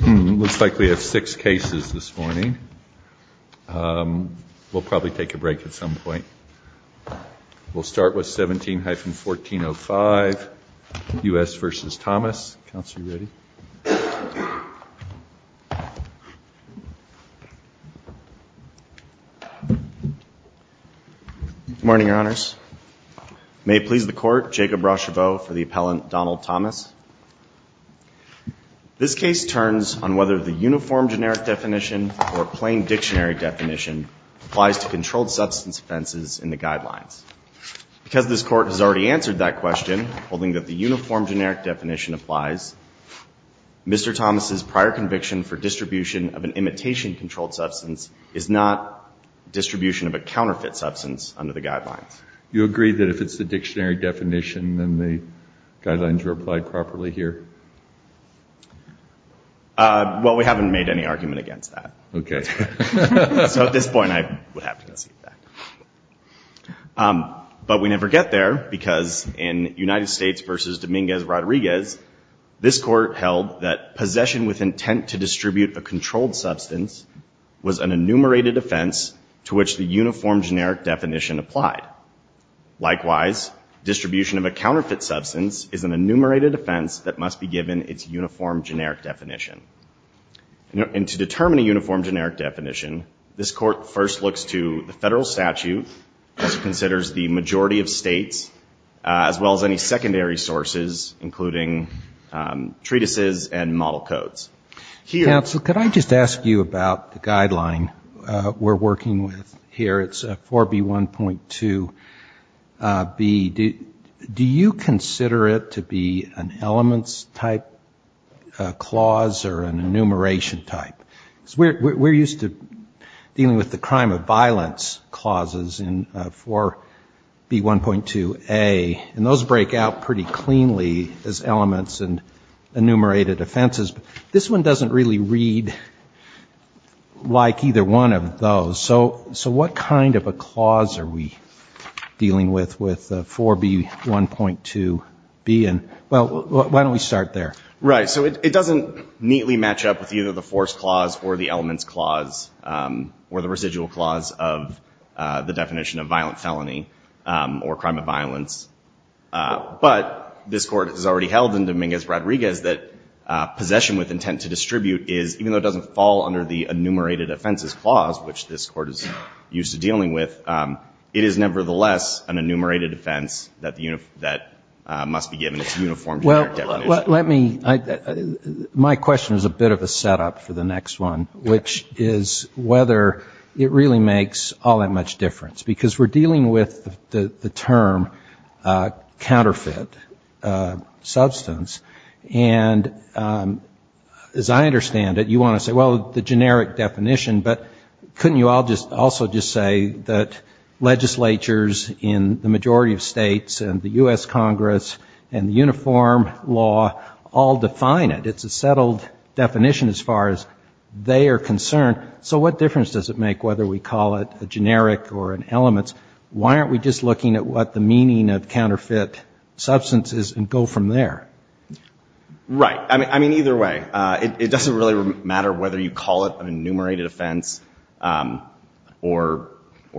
Looks like we have six cases this morning. We'll probably take a break at some point. We'll start with 17-1405 U.S. v. Thomas. Good morning, Your Honors. May it please the Court, Jacob Rocheveau for the appellant Donald Thomas. This case turns on whether the uniform generic definition or plain dictionary definition applies to controlled substance offenses in the guidelines. Because this Court has already answered that Mr. Thomas' prior conviction for distribution of an imitation-controlled substance is not distribution of a counterfeit substance under the guidelines. You agree that if it's the dictionary definition, then the guidelines are applied properly here? Well, we haven't made any argument against that. Okay. So at this point I would have to recede that. But we never get there, because in United States v. Dominguez-Rodriguez, this Court held that possession with intent to distribute a controlled substance was an enumerated offense to which the uniform generic definition applied. Likewise, distribution of a counterfeit substance is an enumerated offense that must be given its uniform generic definition. And to determine a uniform generic definition, this Court first looks to the federal statute, which considers the majority of treatises and model codes. Counsel, could I just ask you about the guideline we're working with here? It's 4B1.2B. Do you consider it to be an elements type clause or an enumeration type? Because we're used to dealing with the crime of violence clauses in 4B1.2A, and those break out pretty cleanly as enumerated offenses. But this one doesn't really read like either one of those. So what kind of a clause are we dealing with, with 4B1.2B? And, well, why don't we start there? Right. So it doesn't neatly match up with either the force clause or the elements clause or the residual clause of the definition of violent felony or crime of that possession with intent to distribute is, even though it doesn't fall under the enumerated offenses clause, which this Court is used to dealing with, it is nevertheless an enumerated offense that must be given its uniform generic definition. Well, let me, my question is a bit of a setup for the next one, which is whether it really makes all that much difference. Because we're dealing with a counterfeit substance. And as I understand it, you want to say, well, the generic definition, but couldn't you all just also just say that legislatures in the majority of states and the U.S. Congress and the uniform law all define it? It's a settled definition as far as they are concerned. So what difference does it make whether we call it a generic or an elements? Why aren't we just looking at what the meaning of counterfeit substance is and go from there? Right. I mean, either way. It doesn't really matter whether you call it an enumerated offense or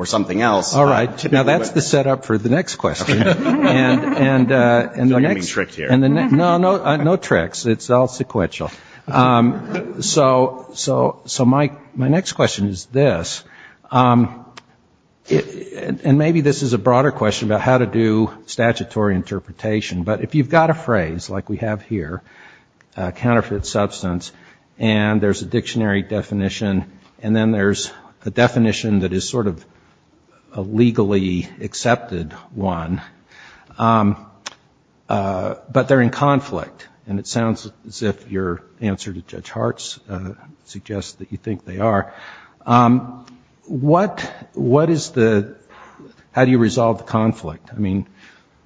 something else. All right. Now, that's the setup for the next question. No tricks here. No tricks. It's all sequential. So my next question is this. And maybe this is a broader question about how to do statutory interpretation. But if you've got a phrase like we have here, counterfeit substance, and there's a dictionary definition, and then there's a definition that is sort of a legally accepted one, but they're in conflict, and it sounds as if your answer to Judge Hart's suggests that you think they are, what is the, how do you resolve the conflict? I mean,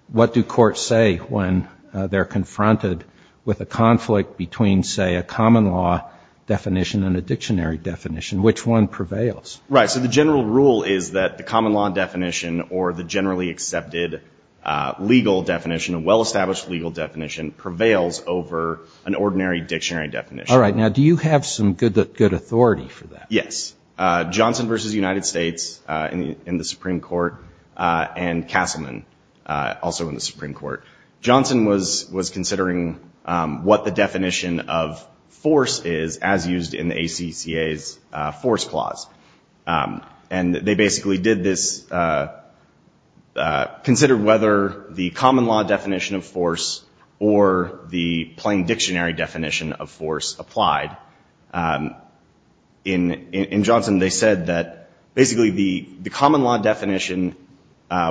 what do courts say when they're confronted with a conflict between, say, a common law definition and a dictionary definition? Which one prevails? Right. So the general rule is that the common law definition or the generally accepted legal definition, a well-established legal definition prevails over an ordinary dictionary definition. All right. Now, do you have some good authority for that? Yes. Johnson v. United States in the Supreme Court, and Castleman also in the Supreme Court. Johnson was considering what the definition of force is as used in the ACCA's force clause. And they basically did this, considered whether the common law definition of force applied. In Johnson, they said that basically the common law definition,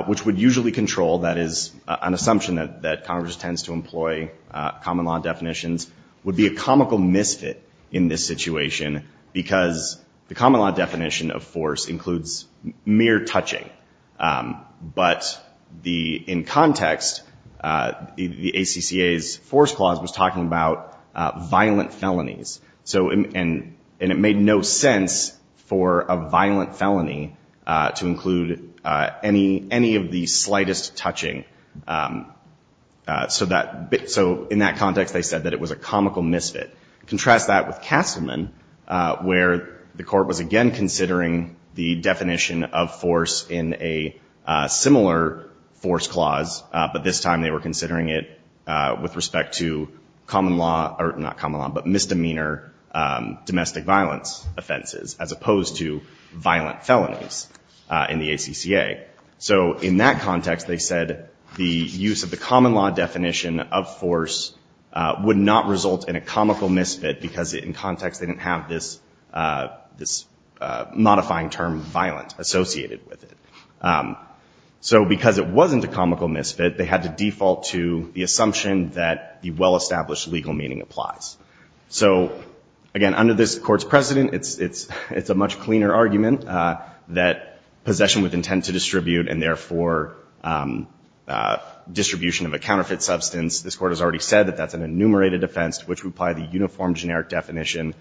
which would usually control, that is an assumption that Congress tends to employ common law definitions, would be a comical misfit in this situation, because the common law definition of force includes mere touching. But in context, the ACCA's force clause was about violent felonies. And it made no sense for a violent felony to include any of the slightest touching. So in that context, they said that it was a comical misfit. Contrast that with Castleman, where the court was again considering the definition of force in a similar force clause, but this time they were considering it with respect to misdemeanor domestic violence offenses, as opposed to violent felonies in the ACCA. So in that context, they said the use of the common law definition of force would not result in a comical misfit because in context they didn't have this modifying term violent associated with it. So because it wasn't a comical misfit, they had to apply it. So again, under this Court's precedent, it's a much cleaner argument that possession with intent to distribute and therefore distribution of a counterfeit substance, this Court has already said that that's an enumerated offense, which would apply the uniform generic definition.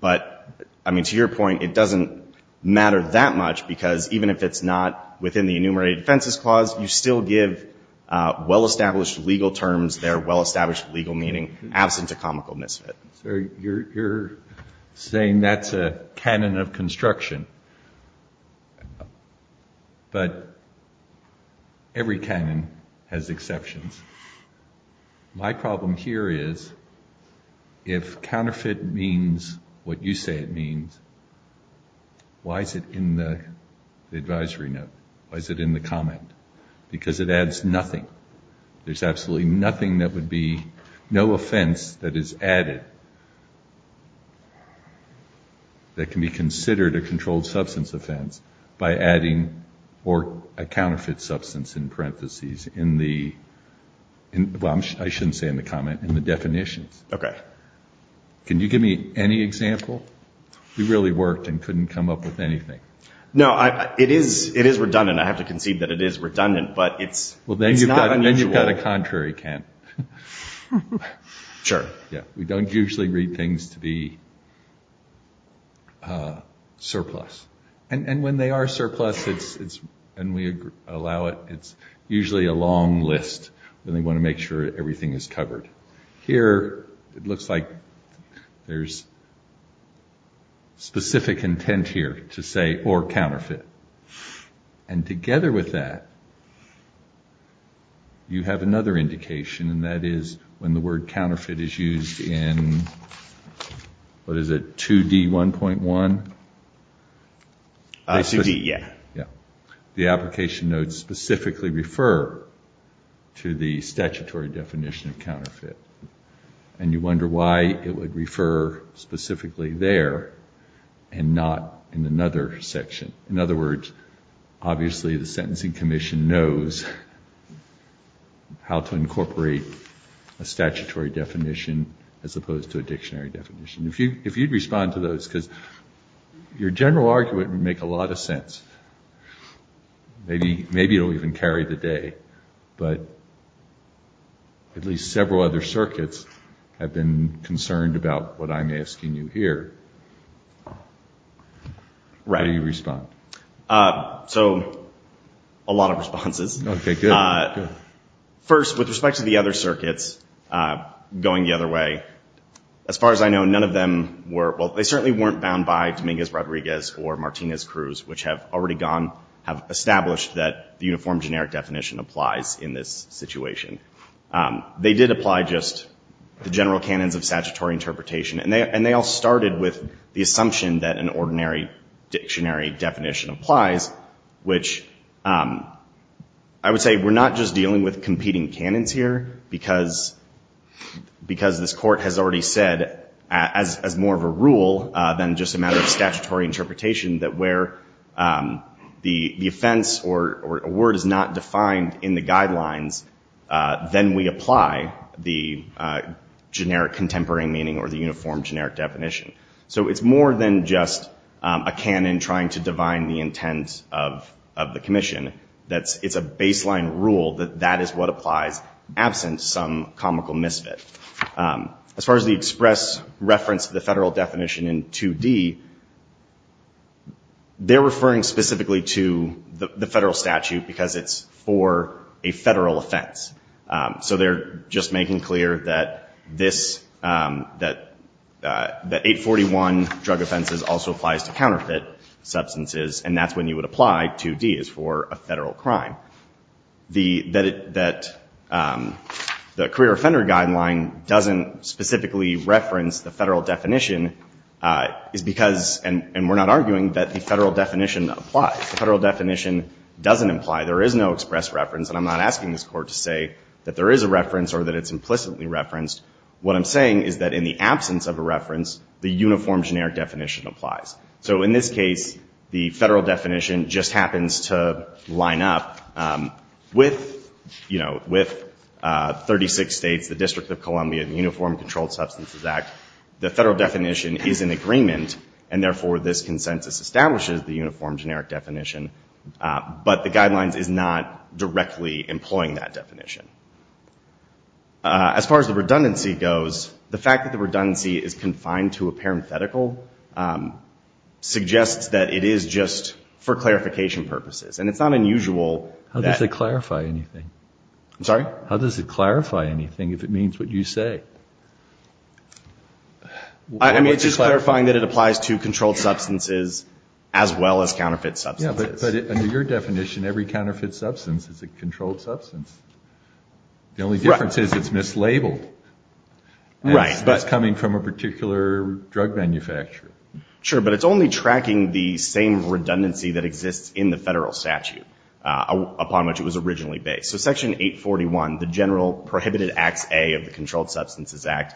But, I mean, to your point, it doesn't matter that much, because even if it's not within the enumerated offenses clause, you still give well-established legal terms their well-established legal meaning absent a comical misfit. So you're saying that's a canon of construction. But every canon has exceptions. My problem here is if counterfeit means what you say it means, why is it in the advisory note? Why is it in the comment? Because it adds nothing. There's absolutely nothing that would be, no offense that is added that can be considered a controlled substance offense by adding or a counterfeit substance in parentheses in the, well, I shouldn't say in the comment, in the definitions. Okay. Can you give me any example? We really worked and couldn't come up with anything. No, it is redundant. I have to concede that it is redundant, but it's not unusual. Then you've got a contrary, Kent. Sure. Yeah, we don't usually read things to be surplus. And when they are surplus, it's, and we allow it, it's usually a long list when they want to make sure everything is covered. Here, it looks like there's specific intent here to say or counterfeit. And together with that, you have another indication. And that is when the word counterfeit is used in, what is it? 2D1.1? 2D, yeah. Yeah. The application notes specifically refer to the statutory definition of counterfeit. And you wonder why it would refer specifically there and not in another section. In other words, obviously the question is, how to incorporate a statutory definition as opposed to a dictionary definition. If you'd respond to those, because your general argument would make a lot of sense. Maybe it'll even carry the day, but at least several other circuits have been concerned about what I'm asking you here. Right. How do you respond? So, a lot of responses. Okay, good. First, with respect to the other circuits, going the other way, as far as I know, none of them were, well, they certainly weren't bound by Dominguez-Rodriguez or Martinez-Cruz, which have already gone, have established that the uniform generic definition applies in this situation. They did apply just the general canons of statutory interpretation. And they all started with the assumption that an I would say we're not just dealing with competing canons here, because this court has already said, as more of a rule than just a matter of statutory interpretation, that where the offense or a word is not defined in the guidelines, then we apply the generic contemporary meaning or the uniform generic definition. So it's more than just a canon trying to divine the intent of the commission. It's a baseline rule that that is what applies, absent some comical misfit. As far as the express reference of the federal definition in 2D, they're referring specifically to the federal statute because it's for a federal offense. So they're just making clear that 841 drug offenses also applies to counterfeit substances, and that's when you would apply 2D is for a federal crime. The, that it, that the career offender guideline doesn't specifically reference the federal definition is because, and we're not arguing that the federal definition applies. The federal definition doesn't imply there is no express reference. And I'm not asking this court to say that there is a reference or that it's implicitly referenced. What I'm saying is that in the absence of a reference, the uniform generic definition applies. So in this case, the federal definition just happens to line up with, you know, with 36 states, the District of Columbia, the Uniform Controlled Substances Act, the federal definition is in agreement, and therefore this consensus establishes the uniform generic definition. But the guidelines is not directly employing that definition. As far as the redundancy goes, the fact that the redundancy is confined to a parenthetical suggests that it is just for clarification purposes. And it's not unusual. How does it clarify anything? I'm sorry? How does it clarify anything if it means what you say? I mean, it's just clarifying that it applies to controlled substances as well as counterfeit substances. Yeah, but under your definition, every counterfeit substance is a controlled substance. The only difference is it's mislabeled. Right. It's coming from a particular drug manufacturer. Sure, but it's only tracking the same redundancy that exists in the federal statute upon which it was originally based. So Section 841, the General Prohibited Acts A of the Controlled Substances Act,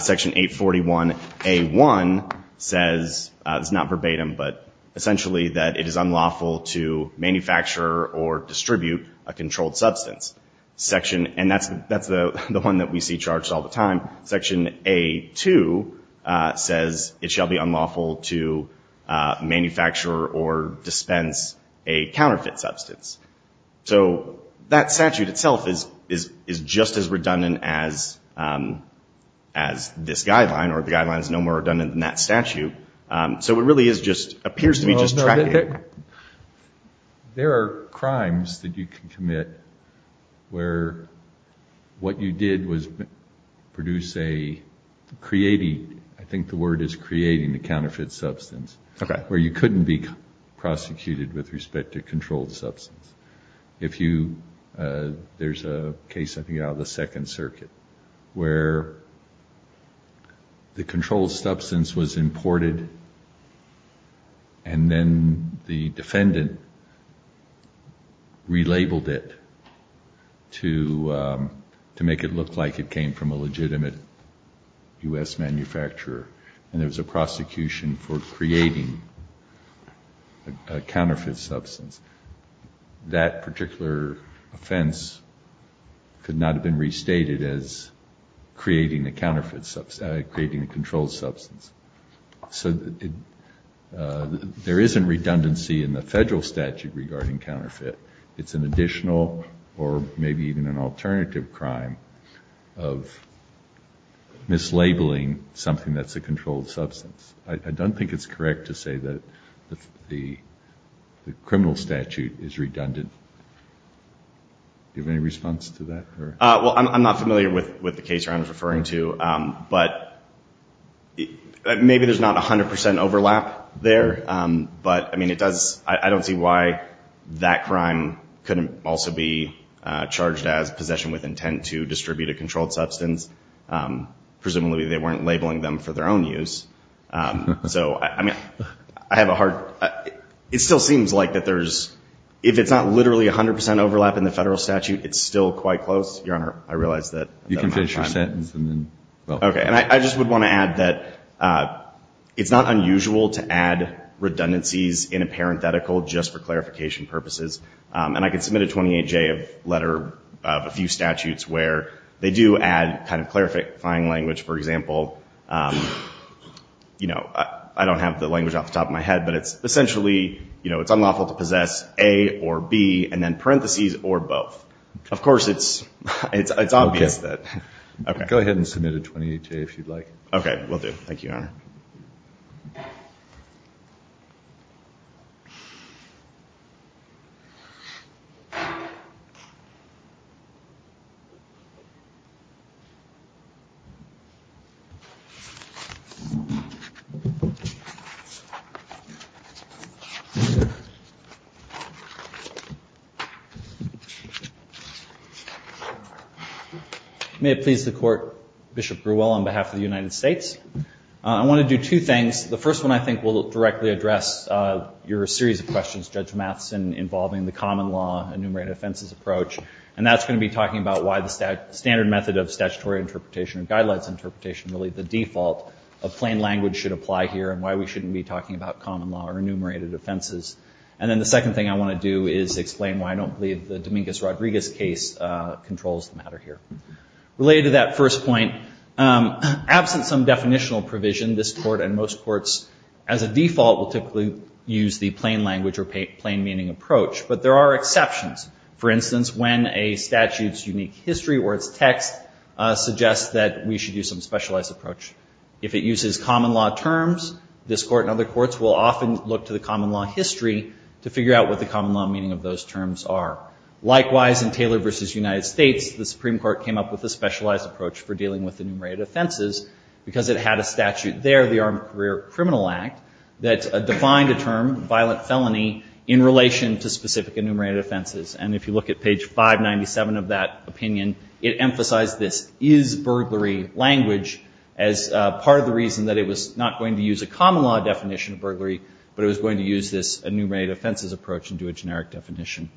Section 841A1 says, it's not verbatim, but essentially that it is unlawful to manufacture or distribute a controlled substance. And that's the one that we see discharged all the time. Section A2 says it shall be unlawful to manufacture or dispense a counterfeit substance. So that statute itself is just as redundant as this guideline, or the guideline is no more redundant than that statute. So it really is just, appears to be just tracking. There are crimes that you can commit where what you did was produce a, creating, I think the word is creating a counterfeit substance, where you couldn't be prosecuted with respect to controlled substance. If you, there's a case I think out of the Second Circuit where the controlled substance was imported and then the defendant relabeled it to make it look like it was from a legitimate U.S. manufacturer and there was a prosecution for creating a counterfeit substance, that particular offense could not have been restated as creating a counterfeit substance, creating a controlled substance. So there isn't redundancy in the federal statute regarding counterfeit. It's an additional or maybe even an alternative crime of mislabeling something that's a controlled substance. I don't think it's correct to say that the criminal statute is redundant. Do you have any response to that? Well, I'm not familiar with the case you're referring to, but maybe there's not 100% overlap there, but I mean, it couldn't also be charged as possession with intent to distribute a controlled substance. Presumably they weren't labeling them for their own use. So I mean, I have a hard, it still seems like that there's, if it's not literally 100% overlap in the federal statute, it's still quite close. Your Honor, I realize that. You can finish your sentence. Okay. And I just would want to add that it's not unusual to add redundancies in a statute. And I can submit a 28-J letter of a few statutes where they do add kind of clarifying language. For example, you know, I don't have the language off the top of my head, but it's essentially, you know, it's unlawful to possess A or B and then parentheses or both. Of course, it's obvious that. Go ahead and submit a 28-J if you'd like. Okay, will do. Thank you, Your Honor. May it please the court, Bishop Grewell, on behalf of the United States. I want to do two things. The first one, I think will directly address your series of questions, Judge Matheson, involving the common law enumerated offenses approach. And that's going to be talking about why the standard method of statutory interpretation or guidelines interpretation, really the default of plain language should apply here and why we shouldn't be talking about common law or enumerated offenses. And then the second thing I want to do is explain why I don't believe the Dominguez-Rodriguez case controls the matter here. Related to that first point, absent some definitional provision, this court and most courts as a default will use the plain language or plain meaning approach, but there are exceptions. For instance, when a statute's unique history or its text suggests that we should use some specialized approach. If it uses common law terms, this court and other courts will often look to the common law history to figure out what the common law meaning of those terms are. Likewise, in Taylor v. United States, the Supreme Court came up with a specialized approach for dealing with enumerated offenses because it had a statute there, the Armed Career Criminal Act, that defined a term, violent felony, in relation to specific enumerated offenses. And if you look at page 597 of that opinion, it emphasized this is burglary language as part of the reason that it was not going to use a common law definition of burglary, but it was going to use this enumerated offenses approach and do a generic definition.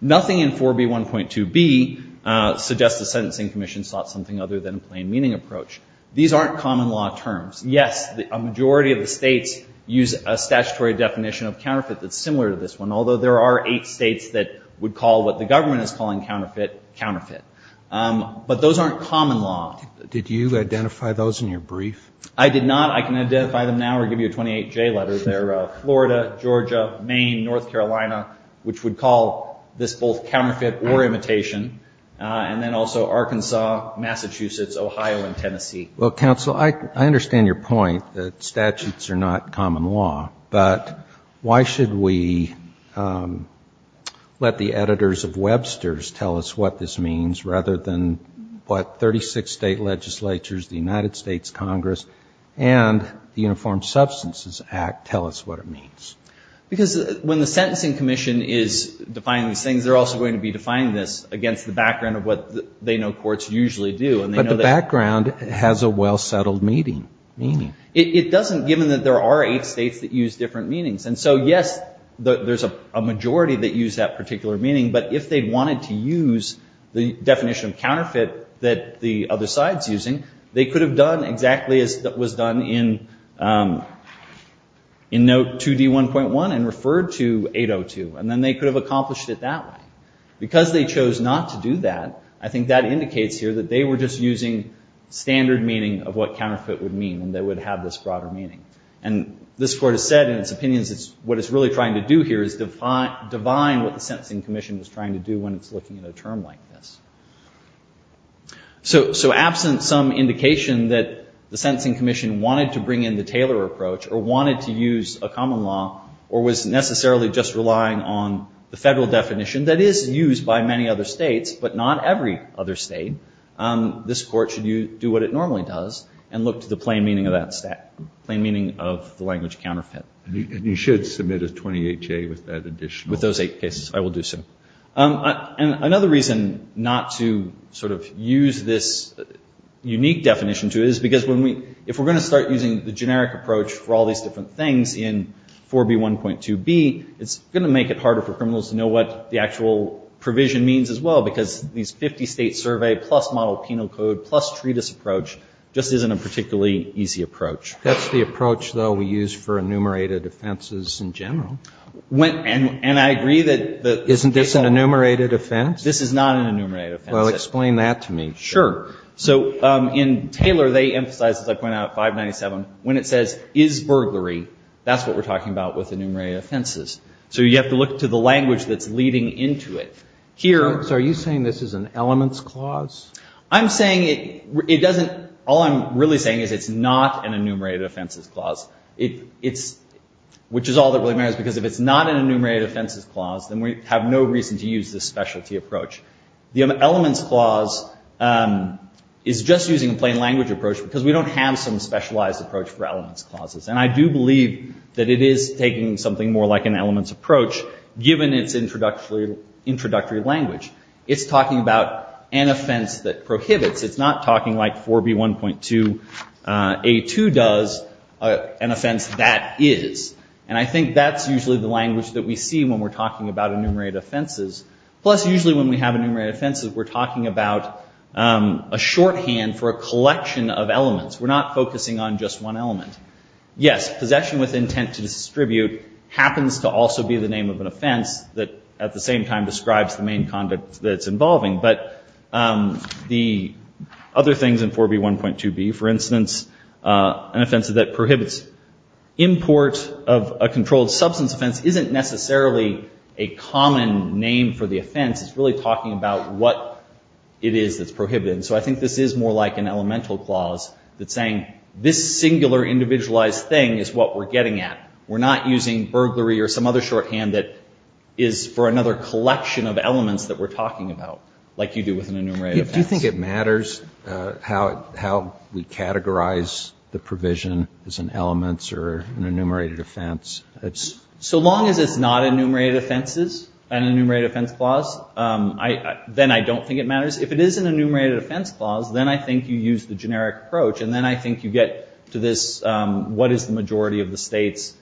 Nothing in 4B1.2b suggests the sentencing commission sought something other than a plain meaning approach. These aren't common law terms. Yes, the majority of the states use a statutory definition of counterfeit that's similar to this one, although there are eight states that would call what the government is calling counterfeit, counterfeit. But those aren't common law. Did you identify those in your brief? I did not. I can identify them now or give you a 28-J letter. They're Florida, Georgia, Maine, North Carolina, which would Massachusetts, Ohio, and Tennessee. Well, counsel, I understand your point that statutes are not common law. But why should we let the editors of Webster's tell us what this means rather than what 36 state legislatures, the United States Congress, and the Uniform Substances Act tell us what it means? Because when the sentencing commission is defining these things, they're also going to be defining this against the background of what they know courts usually do. But the background has a well-settled meaning. It doesn't, given that there are eight states that use different meanings. And so, yes, there's a majority that use that particular meaning, but if they wanted to use the definition of counterfeit that the other side's using, they could have done exactly as was done in note 2D1.1 and referred to 802. And then they could have accomplished it that way. Because they chose not to do that, I think that indicates here that they were just using standard meaning of what counterfeit would mean. And they would have this broader meaning. And this court has said in its opinions, what it's really trying to do here is define what the sentencing commission is trying to do when it's looking at a term like this. So absent some indication that the sentencing commission wanted to bring in the Taylor approach or wanted to use a common law or was necessarily just relying on the federal definition that is used by many other states, but not every other state, this court should do what it normally does and look to the plain meaning of that stat, plain meaning of the language counterfeit. And you should submit a 28-J with that additional. With those eight cases, I will do so. And another reason not to sort of use this unique definition to it is because if we're going to start using the generic approach for all these different things in 4B1.2b, it's going to make it harder for criminals to know what the actual provision means as well, because these 50-state survey plus model penal code plus treatise approach just isn't a particularly easy approach. That's the approach, though, we use for enumerated offenses in general. And I agree that the... Isn't this an enumerated offense? This is not an enumerated offense. Well, explain that to me. Sure. So in Taylor, they emphasize, as I pointed out, 597, when it says is burglary, that's what we're talking about with enumerated offenses. So you have to look to the language that's leading into it. Here... So are you saying this is an elements clause? I'm saying it doesn't... All I'm really saying is it's not an enumerated offenses clause, which is all that really matters because if it's not an enumerated offenses clause, then we have no reason to use this specialty approach. The elements clause is just using a plain language approach because we don't have some specialized approach for elements clauses. And I do believe that it is taking something more like an elements approach given its introductory language. It's talking about an offense that prohibits. It's not talking like 4B1.2A2 does an offense that is. And I think that's usually the language that we see when we're talking about enumerated offenses. Plus, usually when we have enumerated offenses, we're talking about a shorthand for a collection of elements. We're not focusing on just one element. Yes, possession with intent to distribute happens to also be the name of an offense that at the same time describes the main conduct that's involving. But the other things in 4B1.2B, for instance, an offense that prohibits import of a controlled substance offense isn't necessarily a common name for the offense. It's really talking about what it is that's prohibited. So I think this is more like an elemental clause that's an individualized thing is what we're getting at. We're not using burglary or some other shorthand that is for another collection of elements that we're talking about like you do with an enumerated offense. Do you think it matters how we categorize the provision as an elements or an enumerated offense? So long as it's not enumerated offenses, an enumerated offense clause, then I don't think it matters. If it is an enumerated offense clause, then I think you use the generic approach. And then I think you get to this, what is the majority of the states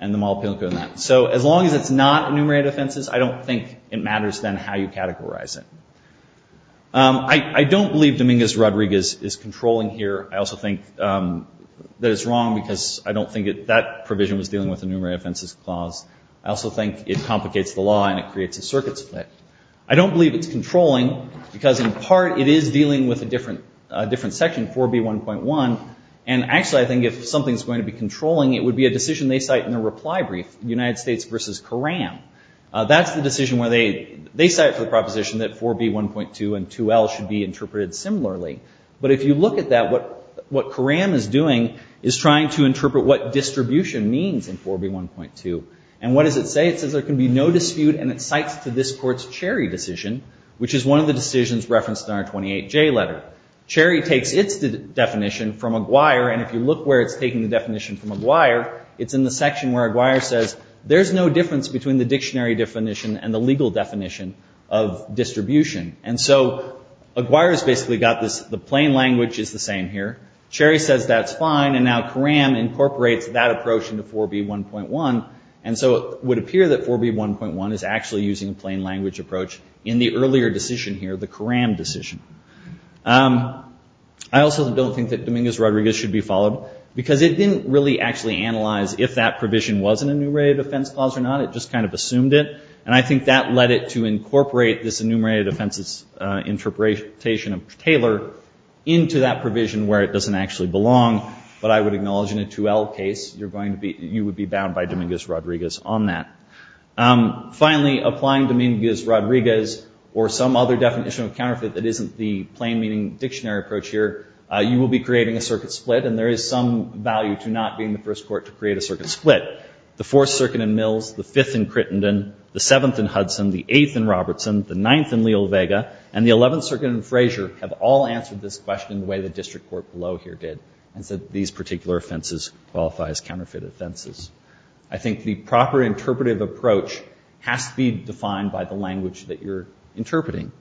and the model appeal code in that. So as long as it's not enumerated offenses, I don't think it matters then how you categorize it. I don't believe Dominguez-Rodriguez is controlling here. I also think that it's wrong because I don't think that provision was dealing with an enumerated offenses clause. I also think it complicates the law and it creates a circuit split. I don't believe it's controlling because in part it is dealing with a different section, 4B1.1. And actually, I think if something's going to be controlling, it would be a decision they cite in a reply brief, United States versus Karam. That's the decision where they cite for the proposition that 4B1.2 and 2L should be interpreted similarly. But if you look at that, what Karam is doing is trying to interpret what distribution means in 4B1.2. And what does it say? It says there can be no dispute and it cites to this court's Cherry decision, which is one of the decisions referenced in our 28J letter. Cherry takes its definition from Aguirre, and if you look where it's taking the definition from Aguirre, it's in the section where Aguirre says there's no difference between the dictionary definition and the legal definition of distribution. And so Aguirre's basically got this, the plain language is the same here. Cherry says that's fine, and now Karam incorporates that approach into 4B1.1. And so it would appear that 4B1.1 is actually using a plain language approach. In the earlier decision here, the Karam decision. I also don't think that Dominguez-Rodriguez should be followed, because it didn't really actually analyze if that provision was an enumerated offense clause or not, it just kind of assumed it. And I think that led it to incorporate this enumerated offenses interpretation of Taylor into that provision where it doesn't actually belong. But I would acknowledge in a 2L case, you would be bound by Dominguez-Rodriguez on that. Finally, applying Dominguez-Rodriguez or some other definition of counterfeit that isn't the plain meaning dictionary approach here, you will be creating a circuit split, and there is some value to not being the first court to create a circuit split. The Fourth Circuit in Mills, the Fifth in Crittenden, the Seventh in Hudson, the Eighth in Robertson, the Ninth in Leo Vega, and the Eleventh Circuit in Frazier have all answered this question the way the district court below here did, and said these particular offenses qualify as counterfeited offenses. I think the proper interpretive approach has to be defined by the language that you're interpreting.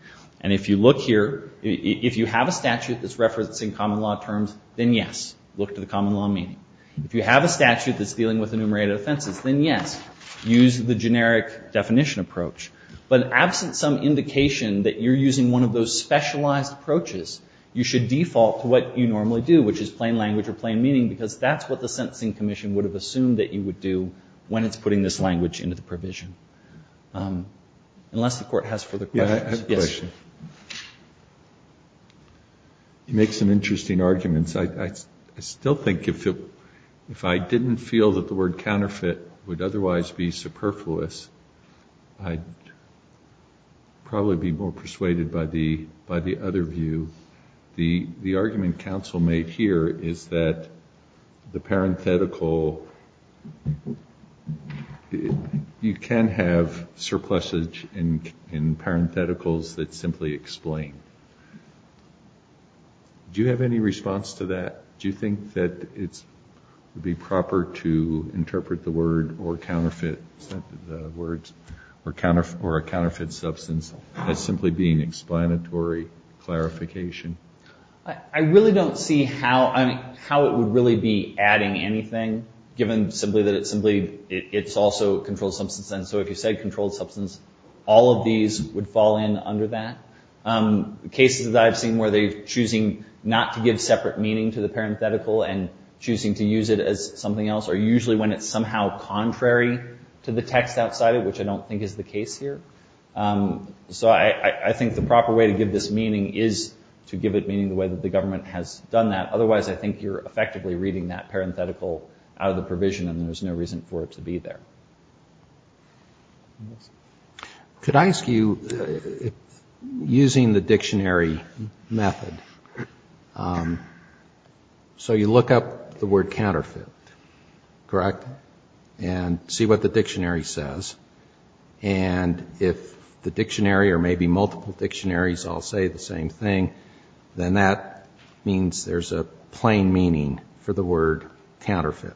And if you look here, if you have a statute that's referencing common law terms, then yes, look to the common law meaning. If you have a statute that's dealing with enumerated offenses, then yes, use the generic definition approach. But absent some indication that you're using one of those specialized approaches, you should default to what you normally do, which is plain language or plain meaning because that's what the Sentencing Commission would assume that you would do when it's putting this language into the provision. Unless the court has further questions. Yes. You make some interesting arguments. I still think if I didn't feel that the word counterfeit would otherwise be superfluous, I'd probably be more persuaded by the other view. The argument counsel made here is that the parenthetical you can have surpluses in parentheticals that simply explain. Do you have any response to that? Do you think that it would be proper to interpret the word or counterfeit the words or a counterfeit substance as simply being explanatory clarification? I really don't see how it would really be adding anything given simply that it's also controlled substance. And so if you said controlled substance, all of these would fall in under that. Cases that I've seen where they're choosing not to give separate meaning to the parenthetical and choosing to use it as something else are usually when it's somehow contrary to the text outside of which I don't think is the case here. So I think the proper way to give this meaning is to give it meaning the way that the government has done that. Otherwise, I think you're effectively reading that out of the provision and there's no reason for it to be there. Could I ask you, using the dictionary method, so you look up the word counterfeit, correct? And see what the dictionary says. And if the dictionary or maybe multiple dictionaries all say the same thing, then that means there's a plain meaning for the word counterfeit.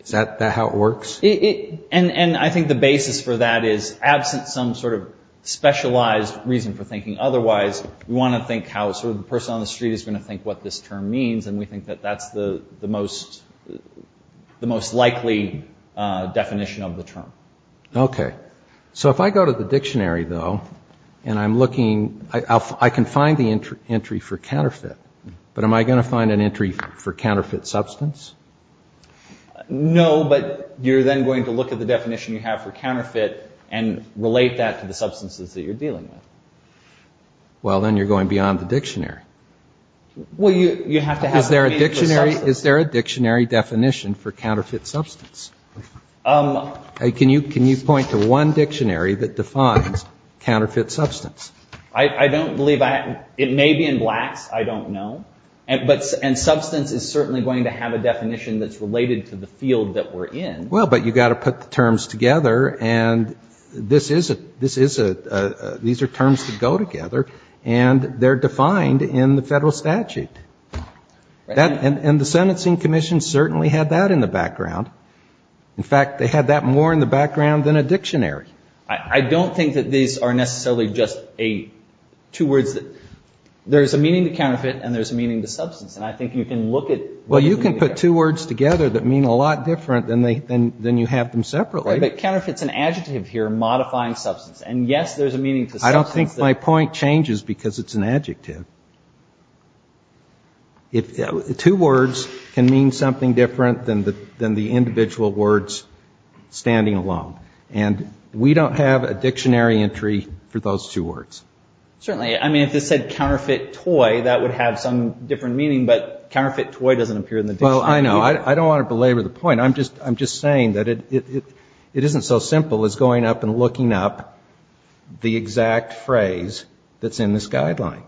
Is that how it works? And I think the basis for that is absent some sort of specialized reason for thinking otherwise, we want to think how sort of the person on the street is going to think what this term means. And we think that that's the most likely definition of the term. Okay. So if I go to the dictionary, though, and I'm looking, I can find the entry for counterfeit. But am I going to find an entry for counterfeit substance? No, but you're then going to look at the definition you have for counterfeit and relate that to the substances that you're dealing with. Well, then you're going beyond the dictionary. Is there a dictionary definition for counterfeit substance? Can you point to one dictionary that defines counterfeit substance? I don't believe it may be in blacks. I don't know. And substance is certainly going to have a definition that's related to the field that we're in. Well, but you got to put the terms together and these are terms that go together and they're defined in the federal statute. And the sentencing commission certainly had that in the background. In fact, they had that more in the background than a dictionary. I don't think that these are necessarily just two words. There's a meaning to counterfeit and there's a meaning to substance and I think you can look at it. Well, you can put two words together that mean a lot different than you have them separately. But counterfeit is an adjective here, modifying substance. And yes, there's a meaning to substance. I don't think my point changes because it's an adjective. Two words can mean something different than the individual words standing alone. And we don't have a dictionary entry for those two words. Certainly. I mean, if this said counterfeit toy, that would have some different meaning, but counterfeit toy doesn't appear in the dictionary. Well, I know. I don't want to belabor the point. I'm just saying that it isn't so simple as going up and looking up the exact phrase that's in this guideline.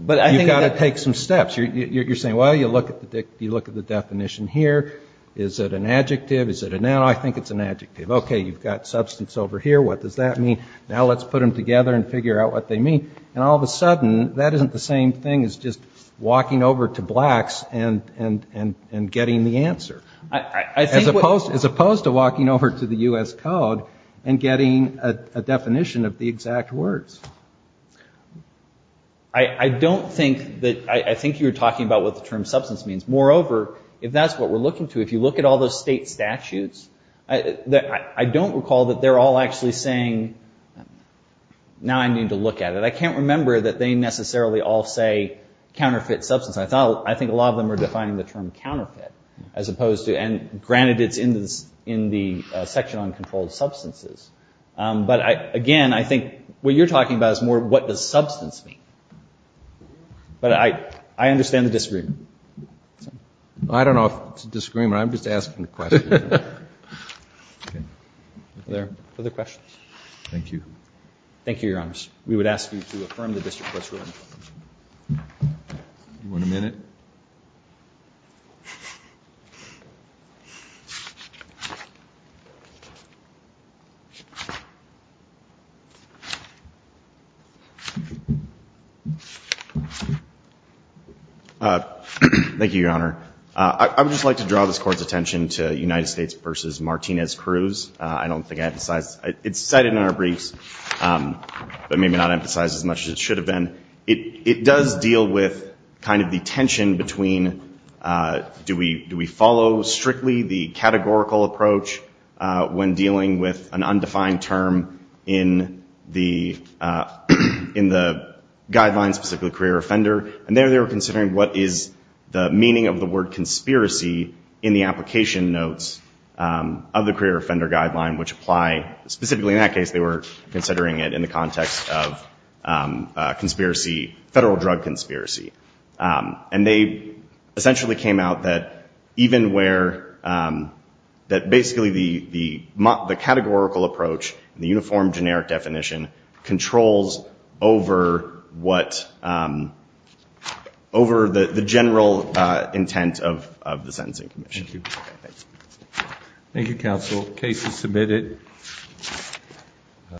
But you've got to take some steps. You're saying, well, you look at the definition here. Is it an adjective? Is it a noun? I think it's an adjective. Okay, you've got substance over here. What does that mean? Now, let's put them together and figure out what they mean. And all of a sudden, that isn't the same thing as just walking over to Blacks and getting the answer, as opposed to walking over to the U.S. Code and getting a definition of the exact words. I don't think that, I think you're talking about what the term substance means. Moreover, if that's what we're looking to, if you look at all those state statutes, I don't recall that they're all actually saying, now I need to look at it. I can't remember that they necessarily all say counterfeit substance. I think a lot of them are defining the term counterfeit, as opposed to, and granted, it's in the section on controlled substances. But again, I think what you're talking about is more, what does substance mean? But I understand the disagreement. I don't know if it's a disagreement. I'm just asking a question. Further questions? Thank you. Thank you, Your Honors. We would ask you to affirm the district court's ruling. You want a minute? Thank you, Your Honor. I would just like to draw this Court's attention to United States v. Martinez-Cruz. I don't think I have the size, it's cited in our briefs. But maybe not emphasized as much as it should have been. It does deal with kind of the tension between, do we follow strictly the categorical approach when dealing with an undefined term in the guidelines, specifically career offender? And there, they were considering what is the meaning of the word conspiracy in the application notes of the career offender guideline, which apply, specifically in that case, they were considering it in the context of conspiracy, federal drug conspiracy. And they essentially came out that even where, that basically the categorical approach, the uniform generic definition controls over what, over the general intent of the sentencing commission. Thank you, counsel. Case is submitted. Thank you.